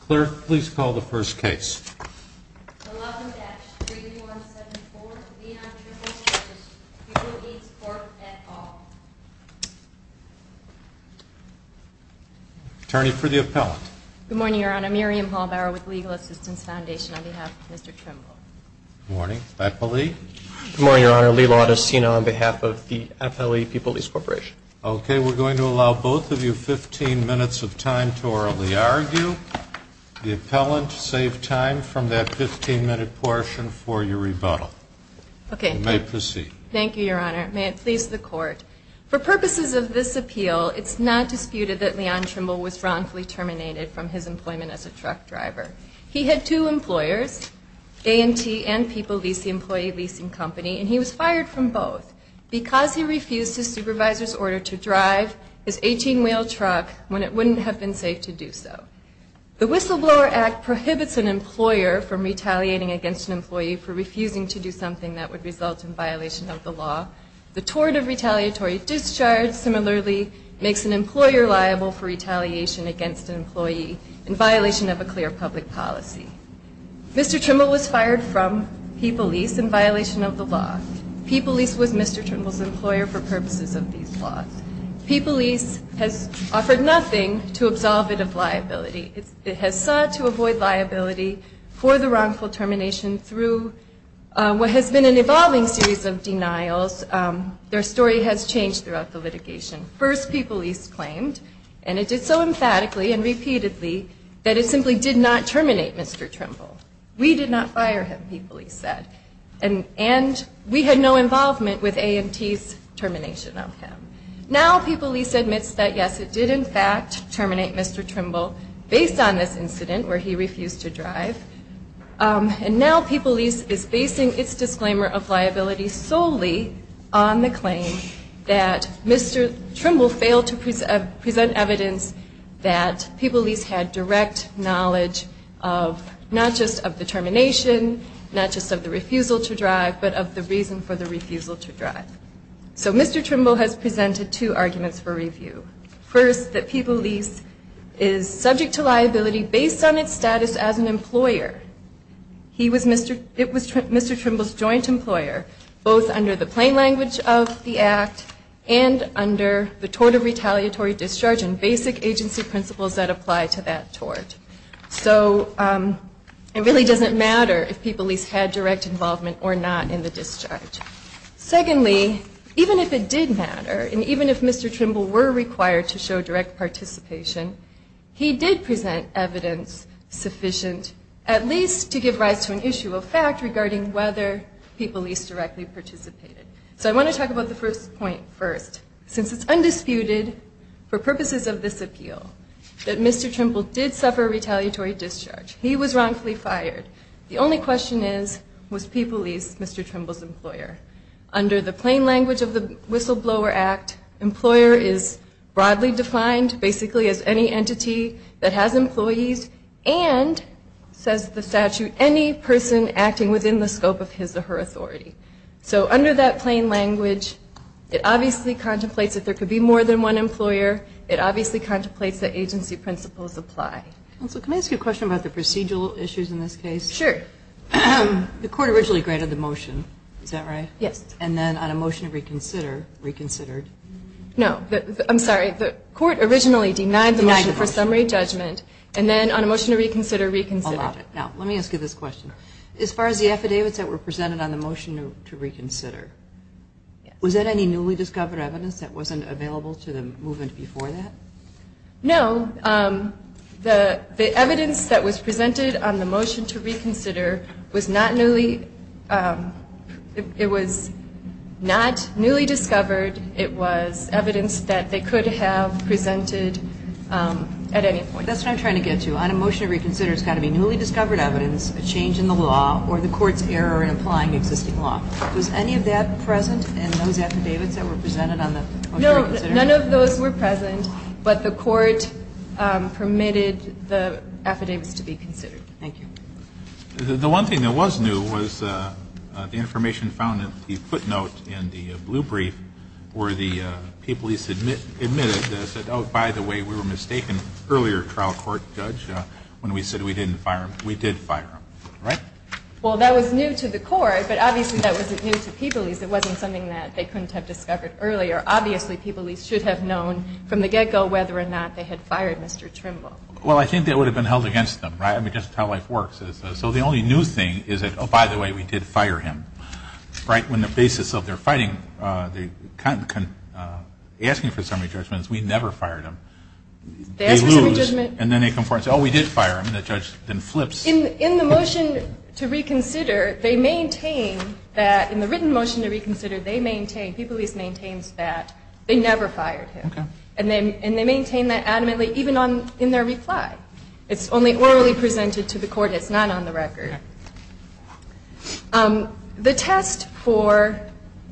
Clerk, please call the first case. 11-3174, Leon Trimble v. Peopleease Corp. et al. Attorney for the appellant. Good morning, Your Honor. Miriam Hallbauer with Legal Assistance Foundation on behalf of Mr. Trimble. Good morning. Appellee. Good morning, Your Honor. Lee Laudacino on behalf of the appellee, Peopleease Corporation. Okay, we're going to allow both of you 15 minutes of time to orally argue. The appellant, save time from that 15-minute portion for your rebuttal. Okay. You may proceed. Thank you, Your Honor. May it please the Court. For purposes of this appeal, it's not disputed that Leon Trimble was wrongfully terminated from his employment as a truck driver. He had two employers, A&T and Peoplelease, the employee leasing company, and he was fired from both because he refused his supervisor's order to drive his 18-wheel truck when it wouldn't have been safe to do so. The Whistleblower Act prohibits an employer from retaliating against an employee for refusing to do something that would result in violation of the law. The Tort of Retaliatory Discharge, similarly, makes an employer liable for retaliation against an employee in violation of a clear public policy. Mr. Trimble was fired from Peoplelease in violation of the law. Peoplelease was Mr. Trimble's employer for purposes of these laws. Peoplelease has offered nothing to absolve it of liability. It has sought to avoid liability for the wrongful termination through what has been an evolving series of denials. Their story has changed throughout the litigation. First, Peoplelease claimed, and it did so emphatically and repeatedly, that it simply did not terminate Mr. Trimble. We did not fire him, Peoplelease said. And we had no involvement with AMT's termination of him. Now Peoplelease admits that, yes, it did in fact terminate Mr. Trimble based on this incident where he refused to drive. And now Peoplelease is basing its disclaimer of liability solely on the claim that Mr. Trimble failed to present evidence that Peoplelease had direct knowledge of not just of the termination, not just of the refusal to drive, but of the reason for the refusal to drive. So Mr. Trimble has presented two arguments for review. First, that Peoplelease is subject to liability based on its status as an employer. It was Mr. Trimble's joint employer, both under the plain language of the act and under the tort of retaliatory discharge and basic agency principles that apply to that tort. So it really doesn't matter if Peoplelease had direct involvement or not in the discharge. Secondly, even if it did matter, and even if Mr. Trimble were required to show direct participation, he did present evidence sufficient at least to give rise to an issue of fact regarding whether Peoplelease directly participated. So I want to talk about the first point first. Since it's undisputed for purposes of this appeal that Mr. Trimble did suffer retaliatory discharge, he was wrongfully fired. The only question is, was Peoplelease Mr. Trimble's employer? Under the plain language of the Whistleblower Act, employer is broadly defined basically as any entity that has employees and, says the statute, any person acting within the scope of his or her authority. So under that plain language, it obviously contemplates that there could be more than one employer. It obviously contemplates that agency principles apply. Counsel, can I ask you a question about the procedural issues in this case? The court originally granted the motion, is that right? Yes. And then on a motion to reconsider, reconsidered. No, I'm sorry, the court originally denied the motion for summary judgment, and then on a motion to reconsider, reconsidered. Now, let me ask you this question. As far as the affidavits that were presented on the motion to reconsider, was there any newly discovered evidence that wasn't available to the movement before that? No, the evidence that was presented on the motion to reconsider was not newly, it was not newly discovered. It was evidence that they could have presented at any point. That's what I'm trying to get to. On a motion to reconsider, it's got to be newly discovered evidence, a change in the law, or the court's error in applying existing law. Was any of that present in those affidavits that were presented on the motion to reconsider? None of those were present, but the court permitted the affidavits to be considered. Thank you. The one thing that was new was the information found at the footnote in the blue brief where the people he submitted said, oh, by the way, we were mistaken earlier, trial court judge, when we said we didn't fire him. We did fire him, right? Well, that was new to the court, but obviously that wasn't new to people. It wasn't something that they couldn't have discovered earlier. Obviously, People East should have known from the get-go whether or not they had fired Mr. Trimble. Well, I think that would have been held against them, right? I mean, just how life works. So the only new thing is that, oh, by the way, we did fire him, right? On the basis of their fighting, asking for summary judgments, we never fired him. They lose, and then they come forward and say, oh, we did fire him, and the judge then flips. In the motion to reconsider, they maintain that, in the written motion to reconsider, they maintain, People East maintains that they never fired him. And they maintain that adamantly even in their reply. It's only orally presented to the court. It's not on the record. The test for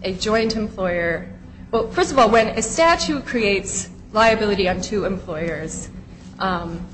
a joint employer, well, first of all, when a statute creates liability on two employers, Illinois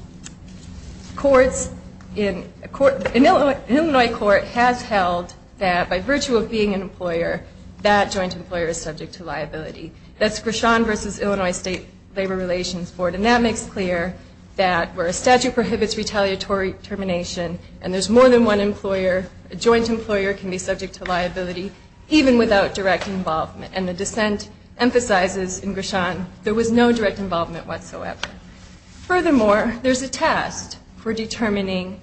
court has held that, by virtue of being an employer, that joint employer is subject to liability. That's Grishon v. Illinois State Labor Relations Board, and that makes clear that where a statute prohibits retaliatory termination, and there's more than one employer, a joint employer can be subject to liability even without direct involvement. And the dissent emphasizes in Grishon there was no direct involvement whatsoever. Furthermore, there's a test for determining,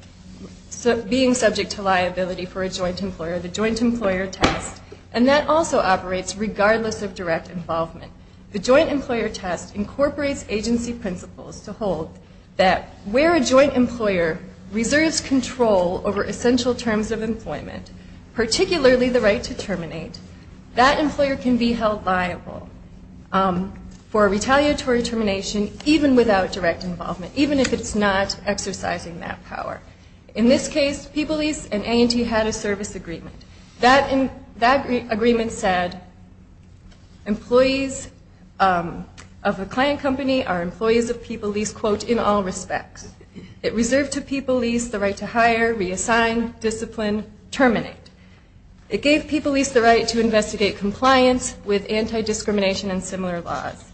being subject to liability for a joint employer, the joint employer test, and that also operates regardless of direct involvement. The joint employer test incorporates agency principles to hold that, where a joint employer reserves control over essential terms of employment, particularly the right to terminate, that employer can be held liable for retaliatory termination even without direct involvement, even if it's not exercising that power. In this case, PeopleEase and A&T had a service agreement. That agreement said employees of a client company are employees of PeopleEase, quote, in all respects. It reserved to PeopleEase the right to hire, reassign, discipline, terminate. It gave PeopleEase the right to investigate compliance with anti-discrimination and similar laws.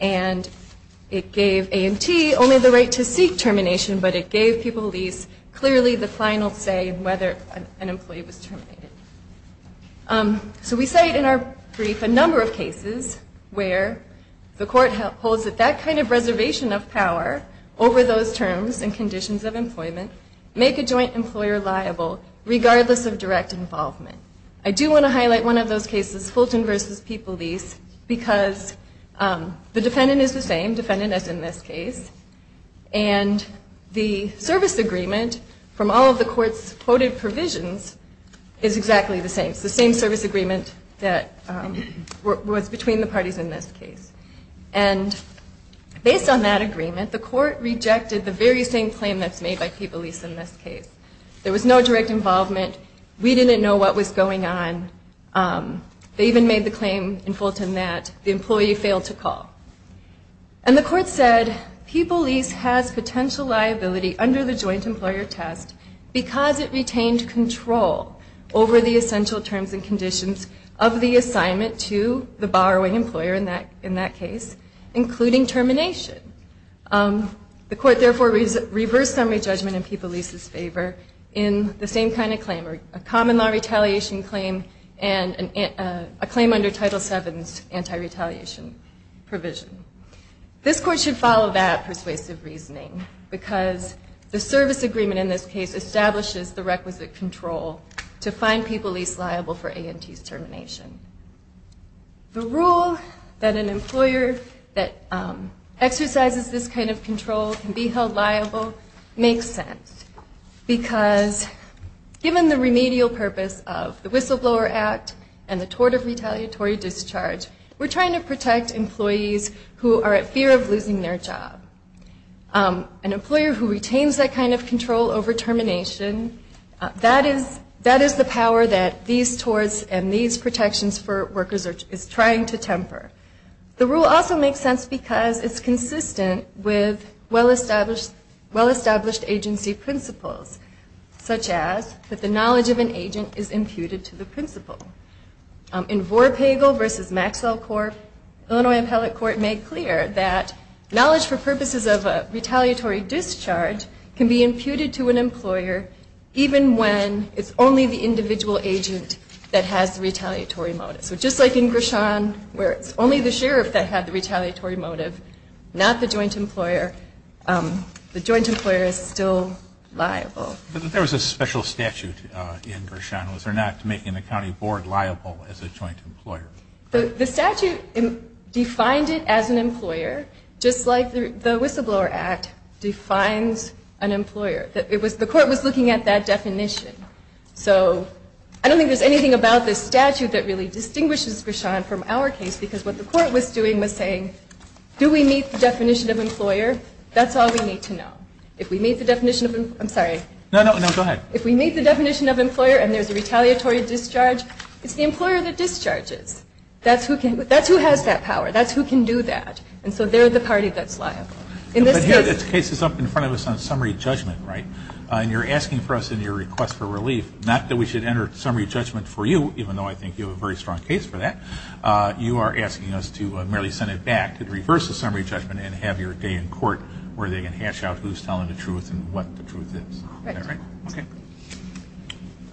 And it gave A&T only the right to seek termination, but it gave PeopleEase clearly the final say in whether an employee was terminated. So we cite in our brief a number of cases where the court holds that that kind of reservation of power over those terms and conditions of employment make a joint employer liable regardless of direct involvement. I do want to highlight one of those cases, Fulton v. PeopleEase, because the defendant is the same, defendant as in this case, and the service agreement from all of the court's quoted provisions is exactly the same. It's the same service agreement that was between the parties in this case. And based on that agreement, the court rejected the very same claim that's made by PeopleEase in this case. There was no direct involvement. We didn't know what was going on. They even made the claim in Fulton that the employee failed to call. And the court said PeopleEase has potential liability under the joint employer test because it retained control over the essential terms and conditions of the assignment to the borrowing employer in that case, including termination. The court therefore reversed summary judgment in PeopleEase's favor in the same kind of claim, a common law retaliation claim and a claim under Title VII's anti-retaliation provision. This court should follow that persuasive reasoning because the service agreement in this case establishes the requisite control to find PeopleEase liable for A&T's termination. The rule that an employer that exercises this kind of control can be held liable makes sense because given the remedial purpose of the Whistleblower Act and the tort of retaliatory discharge, we're trying to protect employees who are at fear of losing their job. An employer who retains that kind of control over termination, that is the power that these torts and these protections for workers is trying to temper. The rule also makes sense because it's consistent with well-established agency principles, such as that the knowledge of an agent is imputed to the principal. In Vorpagel v. Maxwell, Illinois Appellate Court made clear that knowledge for purposes of retaliatory discharge can be imputed to an employer even when it's only the individual agent that has the retaliatory motive. So just like in Gershon where it's only the sheriff that had the retaliatory motive, not the joint employer, the joint employer is still liable. But there was a special statute in Gershon. Was there not to make an accounting board liable as a joint employer? The statute defined it as an employer, just like the Whistleblower Act defines an employer. The court was looking at that definition. So I don't think there's anything about this statute that really distinguishes Gershon from our case because what the court was doing was saying, do we meet the definition of employer? That's all we need to know. If we meet the definition of employer and there's a retaliatory discharge, it's the employer that discharges. That's who has that power. That's who can do that. And so they're the party that's liable. But here this case is up in front of us on summary judgment, right? And you're asking for us in your request for relief, not that we should enter summary judgment for you, even though I think you have a very strong case for that. You are asking us to merely send it back to reverse the summary judgment and have your day in court where they can hash out who's telling the truth and what the truth is. Right. Okay.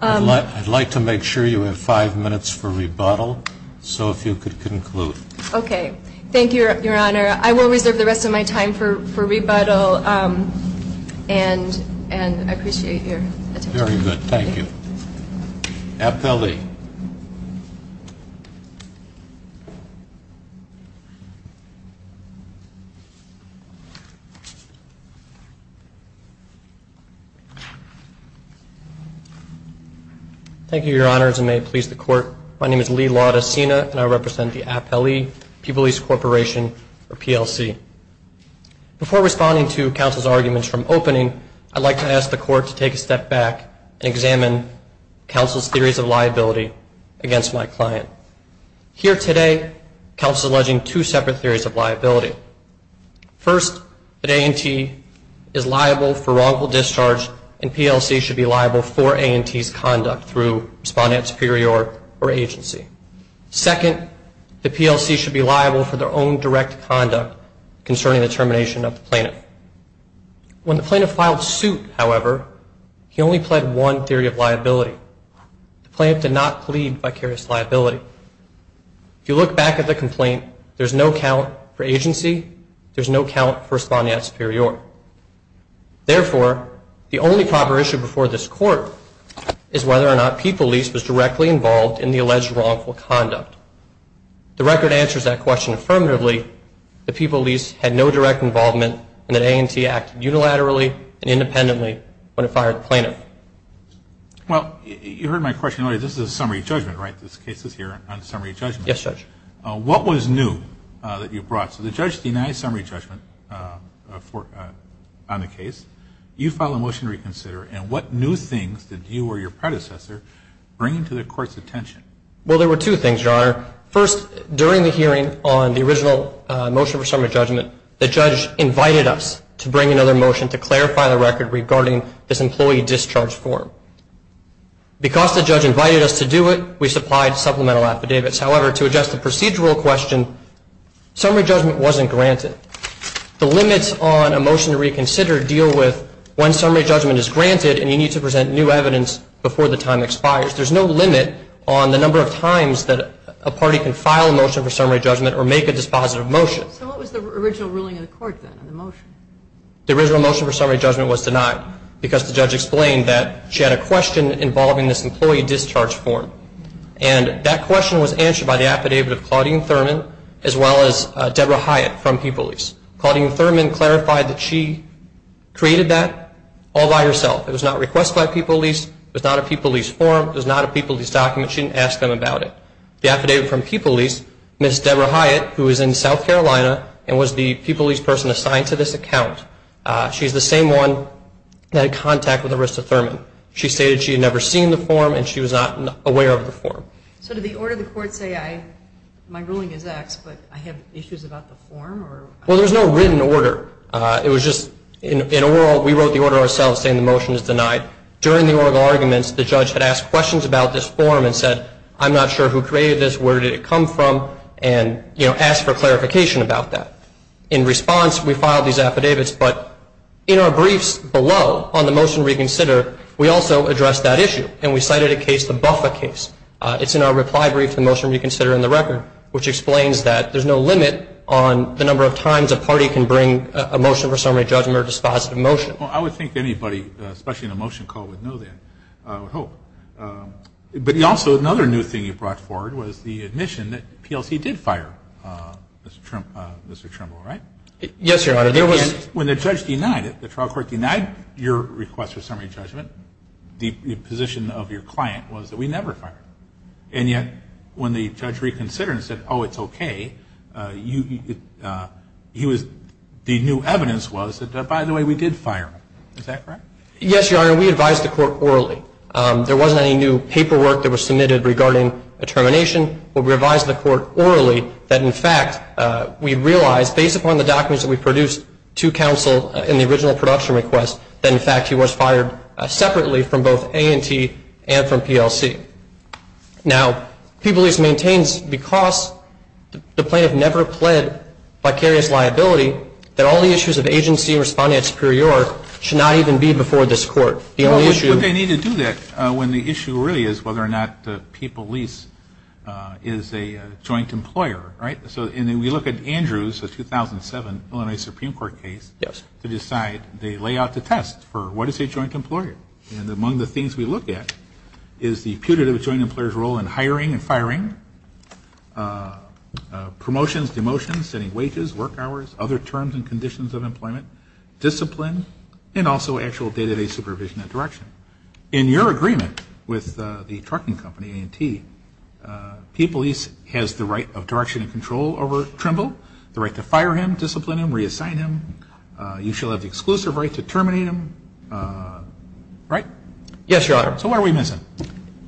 I'd like to make sure you have five minutes for rebuttal, so if you could conclude. Okay. Thank you, Your Honor. I will reserve the rest of my time for rebuttal, and I appreciate your attention. Very good. Thank you. Appellee. Thank you, Your Honors, and may it please the Court. My name is Lee Laudacena, and I represent the Appellee People's Lease Corporation, or PLC. Before responding to counsel's arguments from opening, I'd like to ask the Court to take a step back and examine counsel's theories of liability against my client. Here today, counsel is alleging two separate theories of liability. First, that A&T is liable for wrongful discharge, and PLC should be liable for A&T's conduct through respondent superior or agency. Second, the PLC should be liable for their own direct conduct concerning the termination of the plaintiff. When the plaintiff filed suit, however, he only pled one theory of liability. The plaintiff did not plead vicarious liability. If you look back at the complaint, there's no count for agency. There's no count for respondent superior. Therefore, the only proper issue before this Court is whether or not People Lease was directly involved in the alleged wrongful conduct. The record answers that question affirmatively. The People Lease had no direct involvement and that A&T acted unilaterally and independently when it fired the plaintiff. Well, you heard my question earlier. This is a summary judgment, right? This case is here on summary judgment. Yes, Judge. What was new that you brought? So the judge denies summary judgment on the case. You filed a motion to reconsider, and what new things did you or your predecessor bring to the Court's attention? Well, there were two things, Your Honor. First, during the hearing on the original motion for summary judgment, the judge invited us to bring another motion to clarify the record regarding this employee discharge form. Because the judge invited us to do it, we supplied supplemental affidavits. However, to adjust the procedural question, summary judgment wasn't granted. The limits on a motion to reconsider deal with when summary judgment is granted and you need to present new evidence before the time expires. There's no limit on the number of times that a party can file a motion for summary judgment or make a dispositive motion. So what was the original ruling of the Court then on the motion? The original motion for summary judgment was denied because the judge explained that she had a question involving this employee discharge form. And that question was answered by the affidavit of Claudine Thurman as well as Deborah Hyatt from People Lease. Claudine Thurman clarified that she created that all by herself. It was not requested by People Lease. It was not a People Lease form. It was not a People Lease document. She didn't ask them about it. The affidavit from People Lease, Ms. Deborah Hyatt, who is in South Carolina and was the People Lease person assigned to this account, she's the same one that had contact with Arista Thurman. She stated she had never seen the form and she was not aware of the form. So did the order of the Court say, my ruling is X, but I have issues about the form? Well, there's no written order. It was just in a world we wrote the order ourselves saying the motion is denied. During the oral arguments, the judge had asked questions about this form and said, I'm not sure who created this, where did it come from, and, you know, asked for clarification about that. In response, we filed these affidavits. But in our briefs below on the motion to reconsider, we also addressed that issue, and we cited a case, the Buffa case. It's in our reply brief to the motion to reconsider in the record, which explains that there's no limit on the number of times a party can bring a motion for summary judgment or a dispositive motion. Well, I would think anybody, especially in a motion call, would know that, I would hope. But also another new thing you brought forward was the admission that PLC did fire Mr. Trimble, right? Yes, Your Honor. When the judge denied it, the trial court denied your request for summary judgment, the position of your client was that we never fired him. And yet when the judge reconsidered and said, oh, it's okay, the new evidence was that, by the way, we did fire him. Is that correct? Yes, Your Honor. We advised the court orally. There wasn't any new paperwork that was submitted regarding a termination. We advised the court orally that, in fact, we realized, based upon the documents that we produced to counsel in the original production request, that, in fact, he was fired separately from both A&T and from PLC. Now, People Lease maintains, because the plaintiff never pled vicarious liability, that all the issues of agency and responding at superior should not even be before this court. The only issue Well, but they need to do that when the issue really is whether or not People Lease is a joint employer, right? And we look at Andrews, the 2007 Illinois Supreme Court case, to decide they lay out the test for what is a joint employer. And among the things we look at is the putative joint employer's role in hiring and firing, promotions, demotions, setting wages, work hours, other terms and conditions of employment, discipline, and also actual day-to-day supervision and direction. In your agreement with the trucking company, A&T, People Lease has the right of direction and control over Trimble, the right to fire him, discipline him, reassign him. You shall have the exclusive right to terminate him, right? Yes, Your Honor. So what are we missing?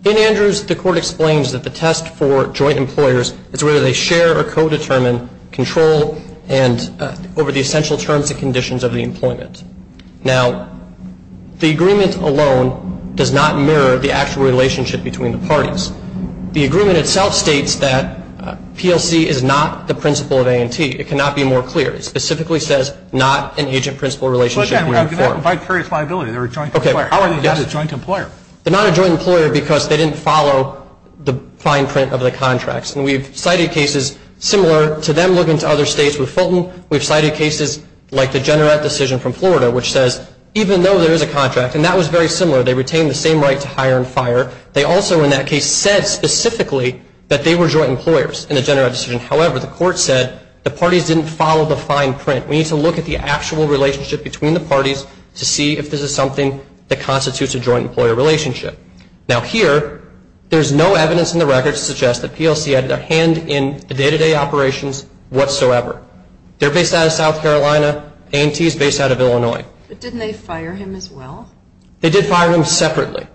In Andrews, the court explains that the test for joint employers is whether they share or co-determine control over the essential terms and conditions of the employment. Now, the agreement alone does not mirror the actual relationship between the parties. The agreement itself states that PLC is not the principal of A&T. It cannot be more clear. It specifically says not an agent-principal relationship. Well, again, we have vicarious liability. They're a joint employer. How are they not a joint employer? They're not a joint employer because they didn't follow the fine print of the contracts. And we've cited cases similar to them looking to other states with Fulton. We've cited cases like the Generette decision from Florida, which says even though there is a contract, and that was very similar, they retained the same right to hire and fire, they also in that case said specifically that they were joint employers in the Generette decision. However, the court said the parties didn't follow the fine print. We need to look at the actual relationship between the parties to see if this is something that constitutes a joint employer relationship. Now, here, there's no evidence in the record to suggest that PLC had their hand in the day-to-day operations whatsoever. They're based out of South Carolina. A&T is based out of Illinois. But didn't they fire him as well? They did fire him separately.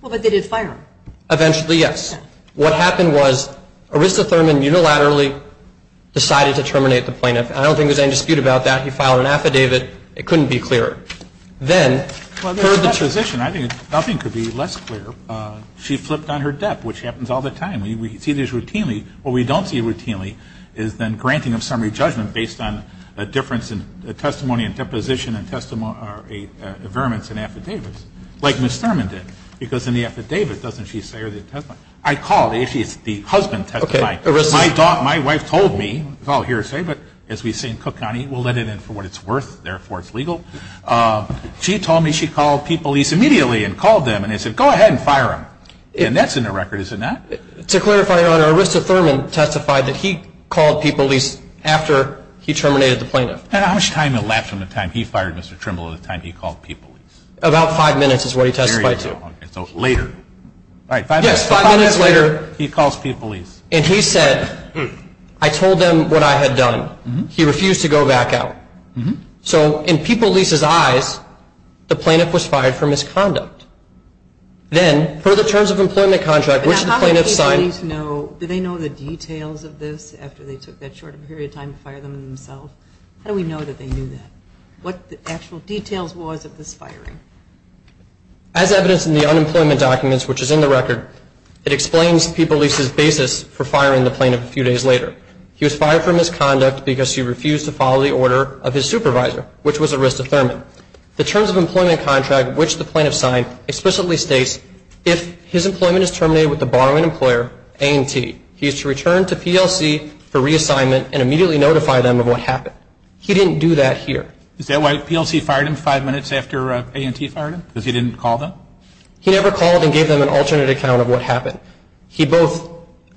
Well, but they did fire him. Eventually, yes. What happened was Arissa Thurman unilaterally decided to terminate the plaintiff. I don't think there's any dispute about that. He filed an affidavit. It couldn't be clearer. Then, for the transition, I think nothing could be less clear. She flipped on her debt, which happens all the time. We see this routinely. What we don't see routinely is then granting of summary judgment based on a difference in testimony and deposition and veriments in affidavits, like Ms. Thurman did. Because in the affidavit, doesn't she say or the testimony? I called. Actually, it's the husband testifying. My wife told me. It's all hearsay, but as we say in Cook County, we'll let it in for what it's worth. Therefore, it's legal. She told me she called P. Police immediately and called them. And they said, go ahead and fire him. And that's in the record, is it not? To clarify, Your Honor, Arista Thurman testified that he called P. Police after he terminated the plaintiff. And how much time elapsed from the time he fired Mr. Trimble to the time he called P. Police? About five minutes is what he testified to. So later. Yes, five minutes later. He calls P. Police. And he said, I told them what I had done. He refused to go back out. So in P. Police's eyes, the plaintiff was fired for misconduct. Then, per the terms of employment contract, which the plaintiff signed. Now, how many people need to know, do they know the details of this after they took that short a period of time to fire them themselves? How do we know that they knew that? What the actual details was of this firing? As evidenced in the unemployment documents, which is in the record, it explains P. Police's basis for firing the plaintiff a few days later. He was fired for misconduct because he refused to follow the order of his supervisor, which was Arista Thurman. The terms of employment contract, which the plaintiff signed, explicitly states, if his employment is terminated with the borrowing employer, A&T, he is to return to P.L.C. for reassignment and immediately notify them of what happened. He didn't do that here. Is that why P.L.C. fired him five minutes after A&T fired him? Because he didn't call them? He never called and gave them an alternate account of what happened. He both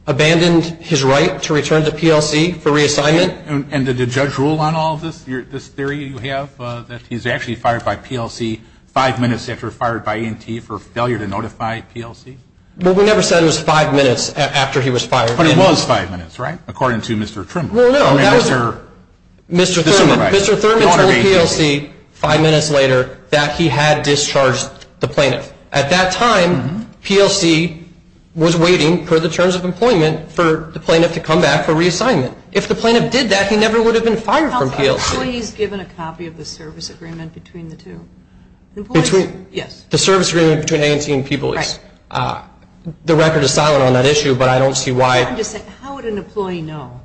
abandoned his right to return to P.L.C. for reassignment. And did the judge rule on all of this, this theory you have, that he's actually fired by P.L.C. five minutes after fired by A&T for failure to notify P.L.C.? Well, we never said it was five minutes after he was fired. But it was five minutes, right, according to Mr. Trimble? Well, no, that was Mr. Thurman. Mr. Thurman told P.L.C. five minutes later that he had discharged the plaintiff. At that time, P.L.C. was waiting for the terms of employment for the plaintiff to come back for reassignment. If the plaintiff did that, he never would have been fired from P.L.C. Are employees given a copy of the service agreement between the two? Between? Yes. The service agreement between A&T and P.L.C.? Right. The record is silent on that issue, but I don't see why. I'm just saying, how would an employee know?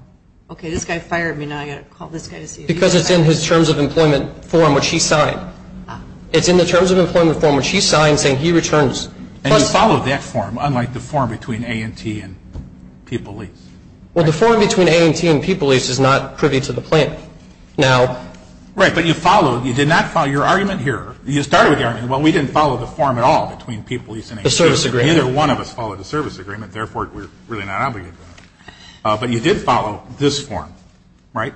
Okay, this guy fired me. Now I've got to call this guy to see if he's all right. Because it's in his terms of employment form, which he signed. It's in the terms of employment form, which he signed, saying he returns. And he followed that form, unlike the form between A&T and P.L.C.? Well, the form between A&T and P.L.C. is not privy to the plaintiff. Right, but you followed, you did not follow your argument here. You started with your argument, well, we didn't follow the form at all between P.L.C. and A&T. The service agreement. Neither one of us followed the service agreement, therefore, we're really not obligated to that. But you did follow this form, right?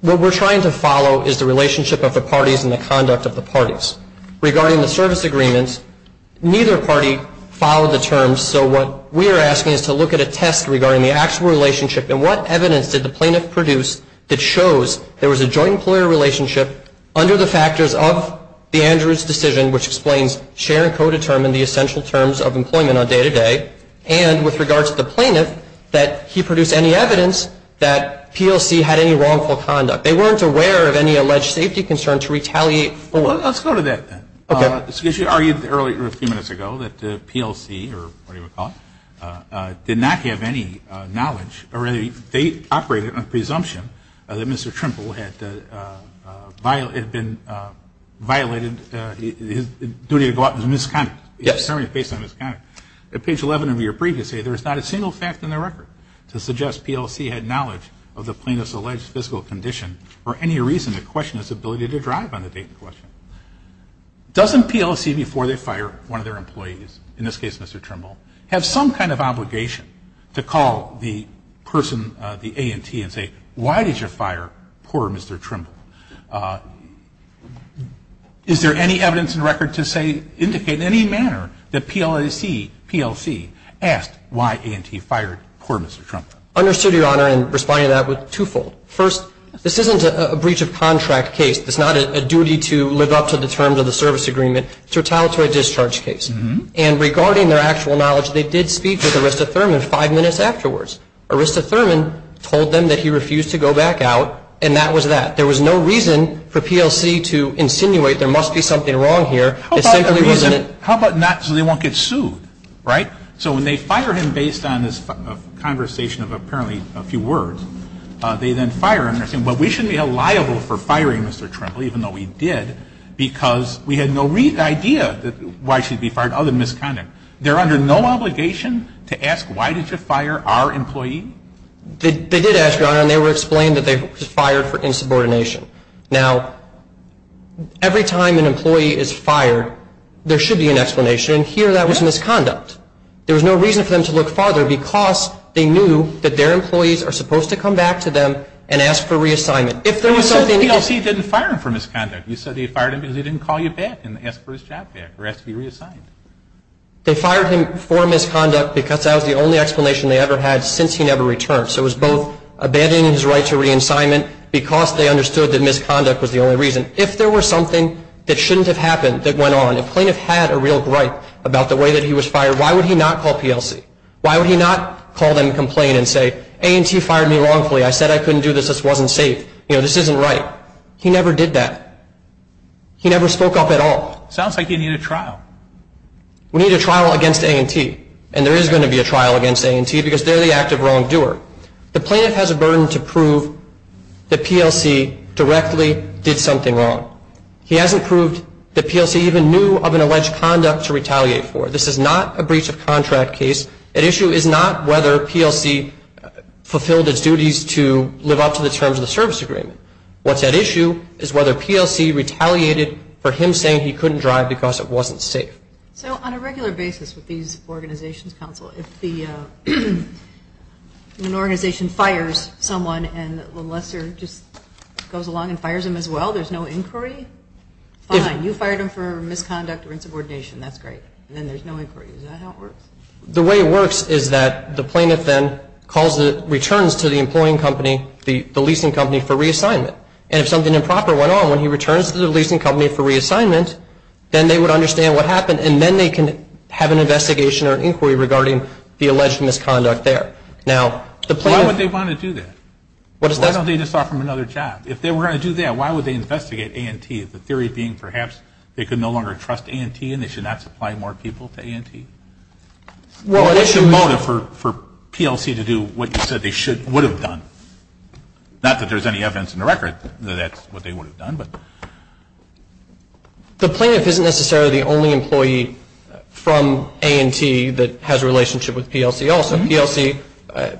What we're trying to follow is the relationship of the parties and the conduct of the parties. Regarding the service agreement, neither party followed the terms, so what we're asking is to look at a test regarding the actual relationship and what evidence did the plaintiff produce that shows there was a joint employer relationship under the factors of the Andrews decision, which explains share and co-determine the essential terms of employment on day-to-day. And with regard to the plaintiff, that he produced any evidence that P.L.C. had any wrongful conduct. They weren't aware of any alleged safety concern to retaliate. Well, let's go to that then. Okay. Excuse me. You argued a few minutes ago that P.L.C., or whatever you want to call it, did not have any knowledge or they operated on the presumption that Mr. Trimple had violated his duty to go out with misconduct. Yes. Based on his conduct. At page 11 of your brief, you say there is not a single fact in the record to suggest P.L.C. had knowledge of the plaintiff's alleged physical condition or any reason to question his ability to drive on the date in question. Doesn't P.L.C., before they fire one of their employees, in this case Mr. Trimble, have some kind of obligation to call the person, the A&T, and say, why did you fire poor Mr. Trimble? Is there any evidence in record to say, indicate in any manner that P.L.C. asked why A&T fired poor Mr. Trimble? Understood, Your Honor, and responding to that with twofold. First, this isn't a breach of contract case. It's not a duty to live up to the terms of the service agreement. It's a retaliatory discharge case. And regarding their actual knowledge, they did speak with Arista Thurman five minutes afterwards. Arista Thurman told them that he refused to go back out, and that was that. There was no reason for P.L.C. to insinuate there must be something wrong here. It simply wasn't. How about not so they won't get sued, right? So when they fire him based on this conversation of apparently a few words, they then fire him. But we shouldn't be held liable for firing Mr. Trimble, even though we did, because we had no idea why he should be fired other than misconduct. They're under no obligation to ask why did you fire our employee? They did ask, Your Honor, and they were explained that they were fired for insubordination. Now, every time an employee is fired, there should be an explanation. Here, that was misconduct. There was no reason for them to look farther because they knew that their employees are supposed to come back to them and ask for reassignment. But you said P.L.C. didn't fire him for misconduct. You said they fired him because he didn't call you back and ask for his job back or ask to be reassigned. They fired him for misconduct because that was the only explanation they ever had since he never returned. So it was both abandoning his right to reassignment because they understood that misconduct was the only reason. If there was something that shouldn't have happened that went on, if a plaintiff had a real gripe about the way that he was fired, why would he not call P.L.C.? Why would he not call them and complain and say, A&T fired me wrongfully. I said I couldn't do this. This wasn't safe. You know, this isn't right. He never did that. He never spoke up at all. Sounds like you need a trial. We need a trial against A&T, and there is going to be a trial against A&T because they're the active wrongdoer. The plaintiff has a burden to prove that P.L.C. directly did something wrong. He hasn't proved that P.L.C. even knew of an alleged conduct to retaliate for. This is not a breach of contract case. At issue is not whether P.L.C. fulfilled its duties to live up to the terms of the service agreement. What's at issue is whether P.L.C. retaliated for him saying he couldn't drive because it wasn't safe. So on a regular basis with these organizations, counsel, if an organization fires someone and a lesser just goes along and fires him as well, there's no inquiry? Fine. You fired him for misconduct or insubordination. That's great. And then there's no inquiry. Is that how it works? The way it works is that the plaintiff then returns to the employing company, the leasing company, for reassignment. And if something improper went on, when he returns to the leasing company for reassignment, then they would understand what happened and then they can have an investigation or an inquiry regarding the alleged misconduct there. Why would they want to do that? Why don't they just offer him another job? If they were going to do that, why would they investigate A&T, the theory being perhaps they could no longer trust A&T and they should not supply more people to A&T? What's the motive for P.L.C. to do what you said they would have done? Not that there's any evidence in the record that that's what they would have done. The plaintiff isn't necessarily the only employee from A&T that has a relationship with P.L.C. also. P.L.C.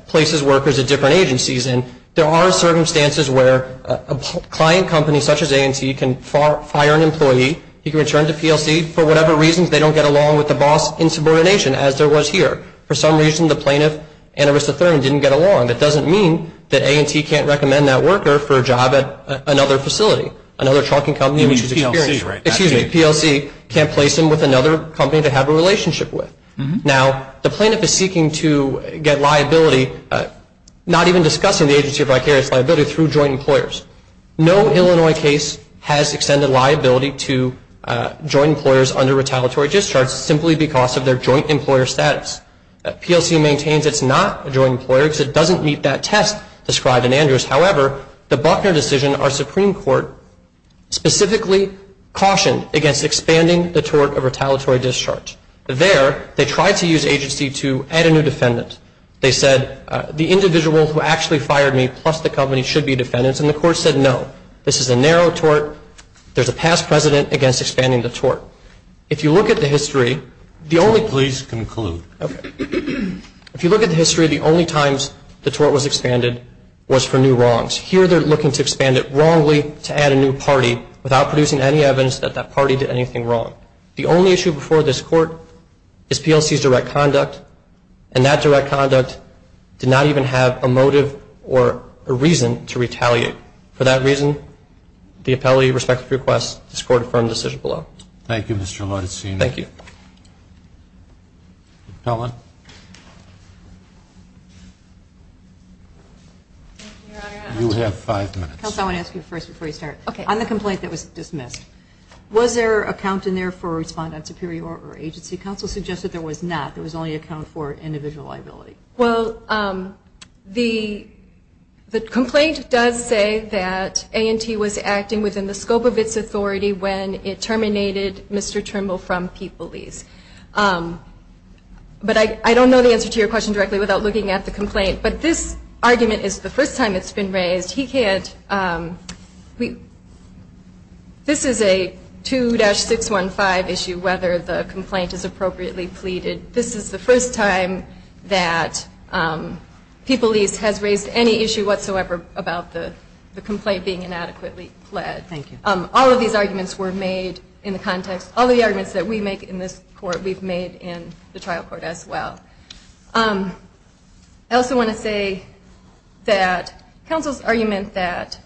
places workers at different agencies. And there are circumstances where a client company such as A&T can fire an employee. He can return to P.L.C. for whatever reasons. They don't get along with the boss in subordination as there was here. For some reason, the plaintiff and Arista Thurman didn't get along. That doesn't mean that A&T can't recommend that worker for a job at another facility, another trucking company. You mean P.L.C., right? Excuse me. P.L.C. can't place him with another company to have a relationship with. Now, the plaintiff is seeking to get liability, not even discussing the agency of vicarious liability, through joint employers. No Illinois case has extended liability to joint employers under retaliatory discharge simply because of their joint employer status. P.L.C. maintains it's not a joint employer because it doesn't meet that test described in Andrews. However, the Buckner decision, our Supreme Court specifically cautioned against expanding the tort of retaliatory discharge. There, they tried to use agency to add a new defendant. They said the individual who actually fired me plus the company should be defendants, and the court said no. This is a narrow tort. There's a past precedent against expanding the tort. If you look at the history, the only time the tort was expanded was for new wrongs. Here they're looking to expand it wrongly to add a new party without producing any evidence that that party did anything wrong. The only issue before this court is P.L.C.'s direct conduct, and that direct conduct did not even have a motive or a reason to retaliate. For that reason, the appellee respects the request. This court affirmed the decision below. Thank you, Mr. Laudersen. Thank you. Pellin. You have five minutes. Counsel, I want to ask you first before you start. Okay. On the complaint that was dismissed, was there a count in there for respondent superior or agency counsel? Suggested there was not. There was only a count for individual liability. Well, the complaint does say that A&T was acting within the scope of its authority when it terminated Mr. Trimble from P.L.C.'s. But I don't know the answer to your question directly without looking at the complaint, but this argument is the first time it's been raised. He can't – this is a 2-615 issue, whether the complaint is appropriately pleaded. This is the first time that P.L.C. has raised any issue whatsoever about the complaint being inadequately pled. Thank you. All of these arguments were made in the context – all the arguments that we make in this court we've made in the trial court as well. I also want to say that counsel's argument that,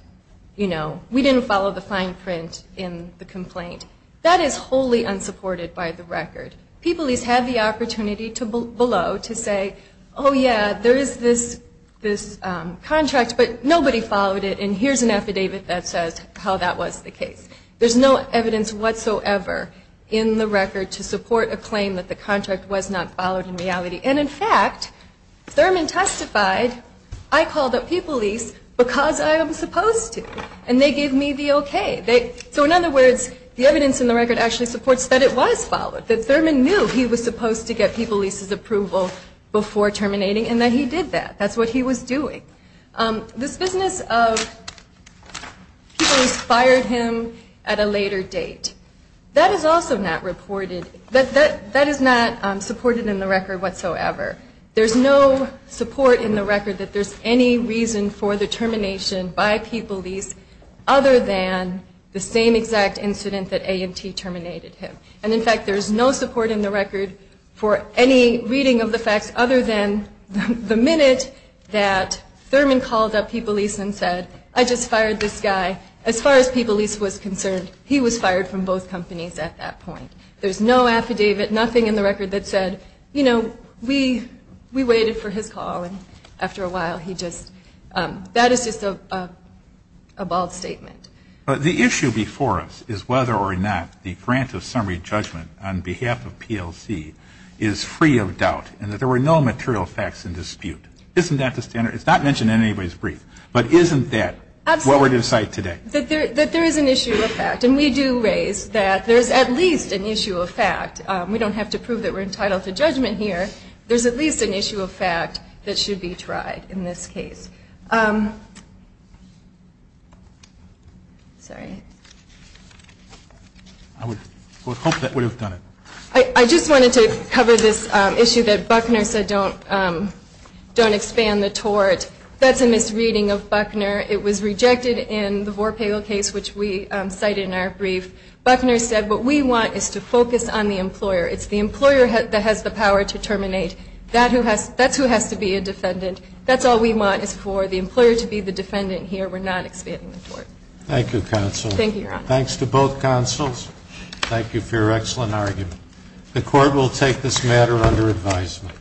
you know, we didn't follow the fine print in the complaint, that is wholly unsupported by the record. People at least have the opportunity below to say, oh, yeah, there is this contract, but nobody followed it, and here's an affidavit that says how that was the case. There's no evidence whatsoever in the record to support a claim that the contract was not followed in reality. And, in fact, Thurman testified, I called up People Lease because I am supposed to, and they gave me the okay. So, in other words, the evidence in the record actually supports that it was followed, that Thurman knew he was supposed to get People Lease's approval before terminating, and that he did that. That's what he was doing. This business of people inspired him at a later date, that is also not reported – that is not supported in the record whatsoever. There's no support in the record that there's any reason for the termination by People Lease other than the same exact incident that A&T terminated him. And, in fact, there's no support in the record for any reading of the facts other than the minute that Thurman called up People Lease and said, I just fired this guy. As far as People Lease was concerned, he was fired from both companies at that point. There's no affidavit, nothing in the record that said, you know, we waited for his call, and after a while he just – that is just a bald statement. But the issue before us is whether or not the grant of summary judgment on behalf of PLC is free of doubt and that there were no material facts in dispute. Isn't that the standard? It's not mentioned in anybody's brief, but isn't that what we're going to cite today? Absolutely. That there is an issue of fact, and we do raise that there's at least an issue of fact. We don't have to prove that we're entitled to judgment here. There's at least an issue of fact that should be tried in this case. Sorry. I would hope that we would have done it. I just wanted to cover this issue that Buckner said don't expand the tort. That's a misreading of Buckner. It was rejected in the Vorpegel case, which we cited in our brief. Buckner said what we want is to focus on the employer. It's the employer that has the power to terminate. That's who has to be a defendant. That's all we want is for the employer to be the defendant here. We're not expanding the tort. Thank you, counsel. Thank you, Your Honor. Thanks to both counsels. Thank you for your excellent argument. The court will take this matter under advisement.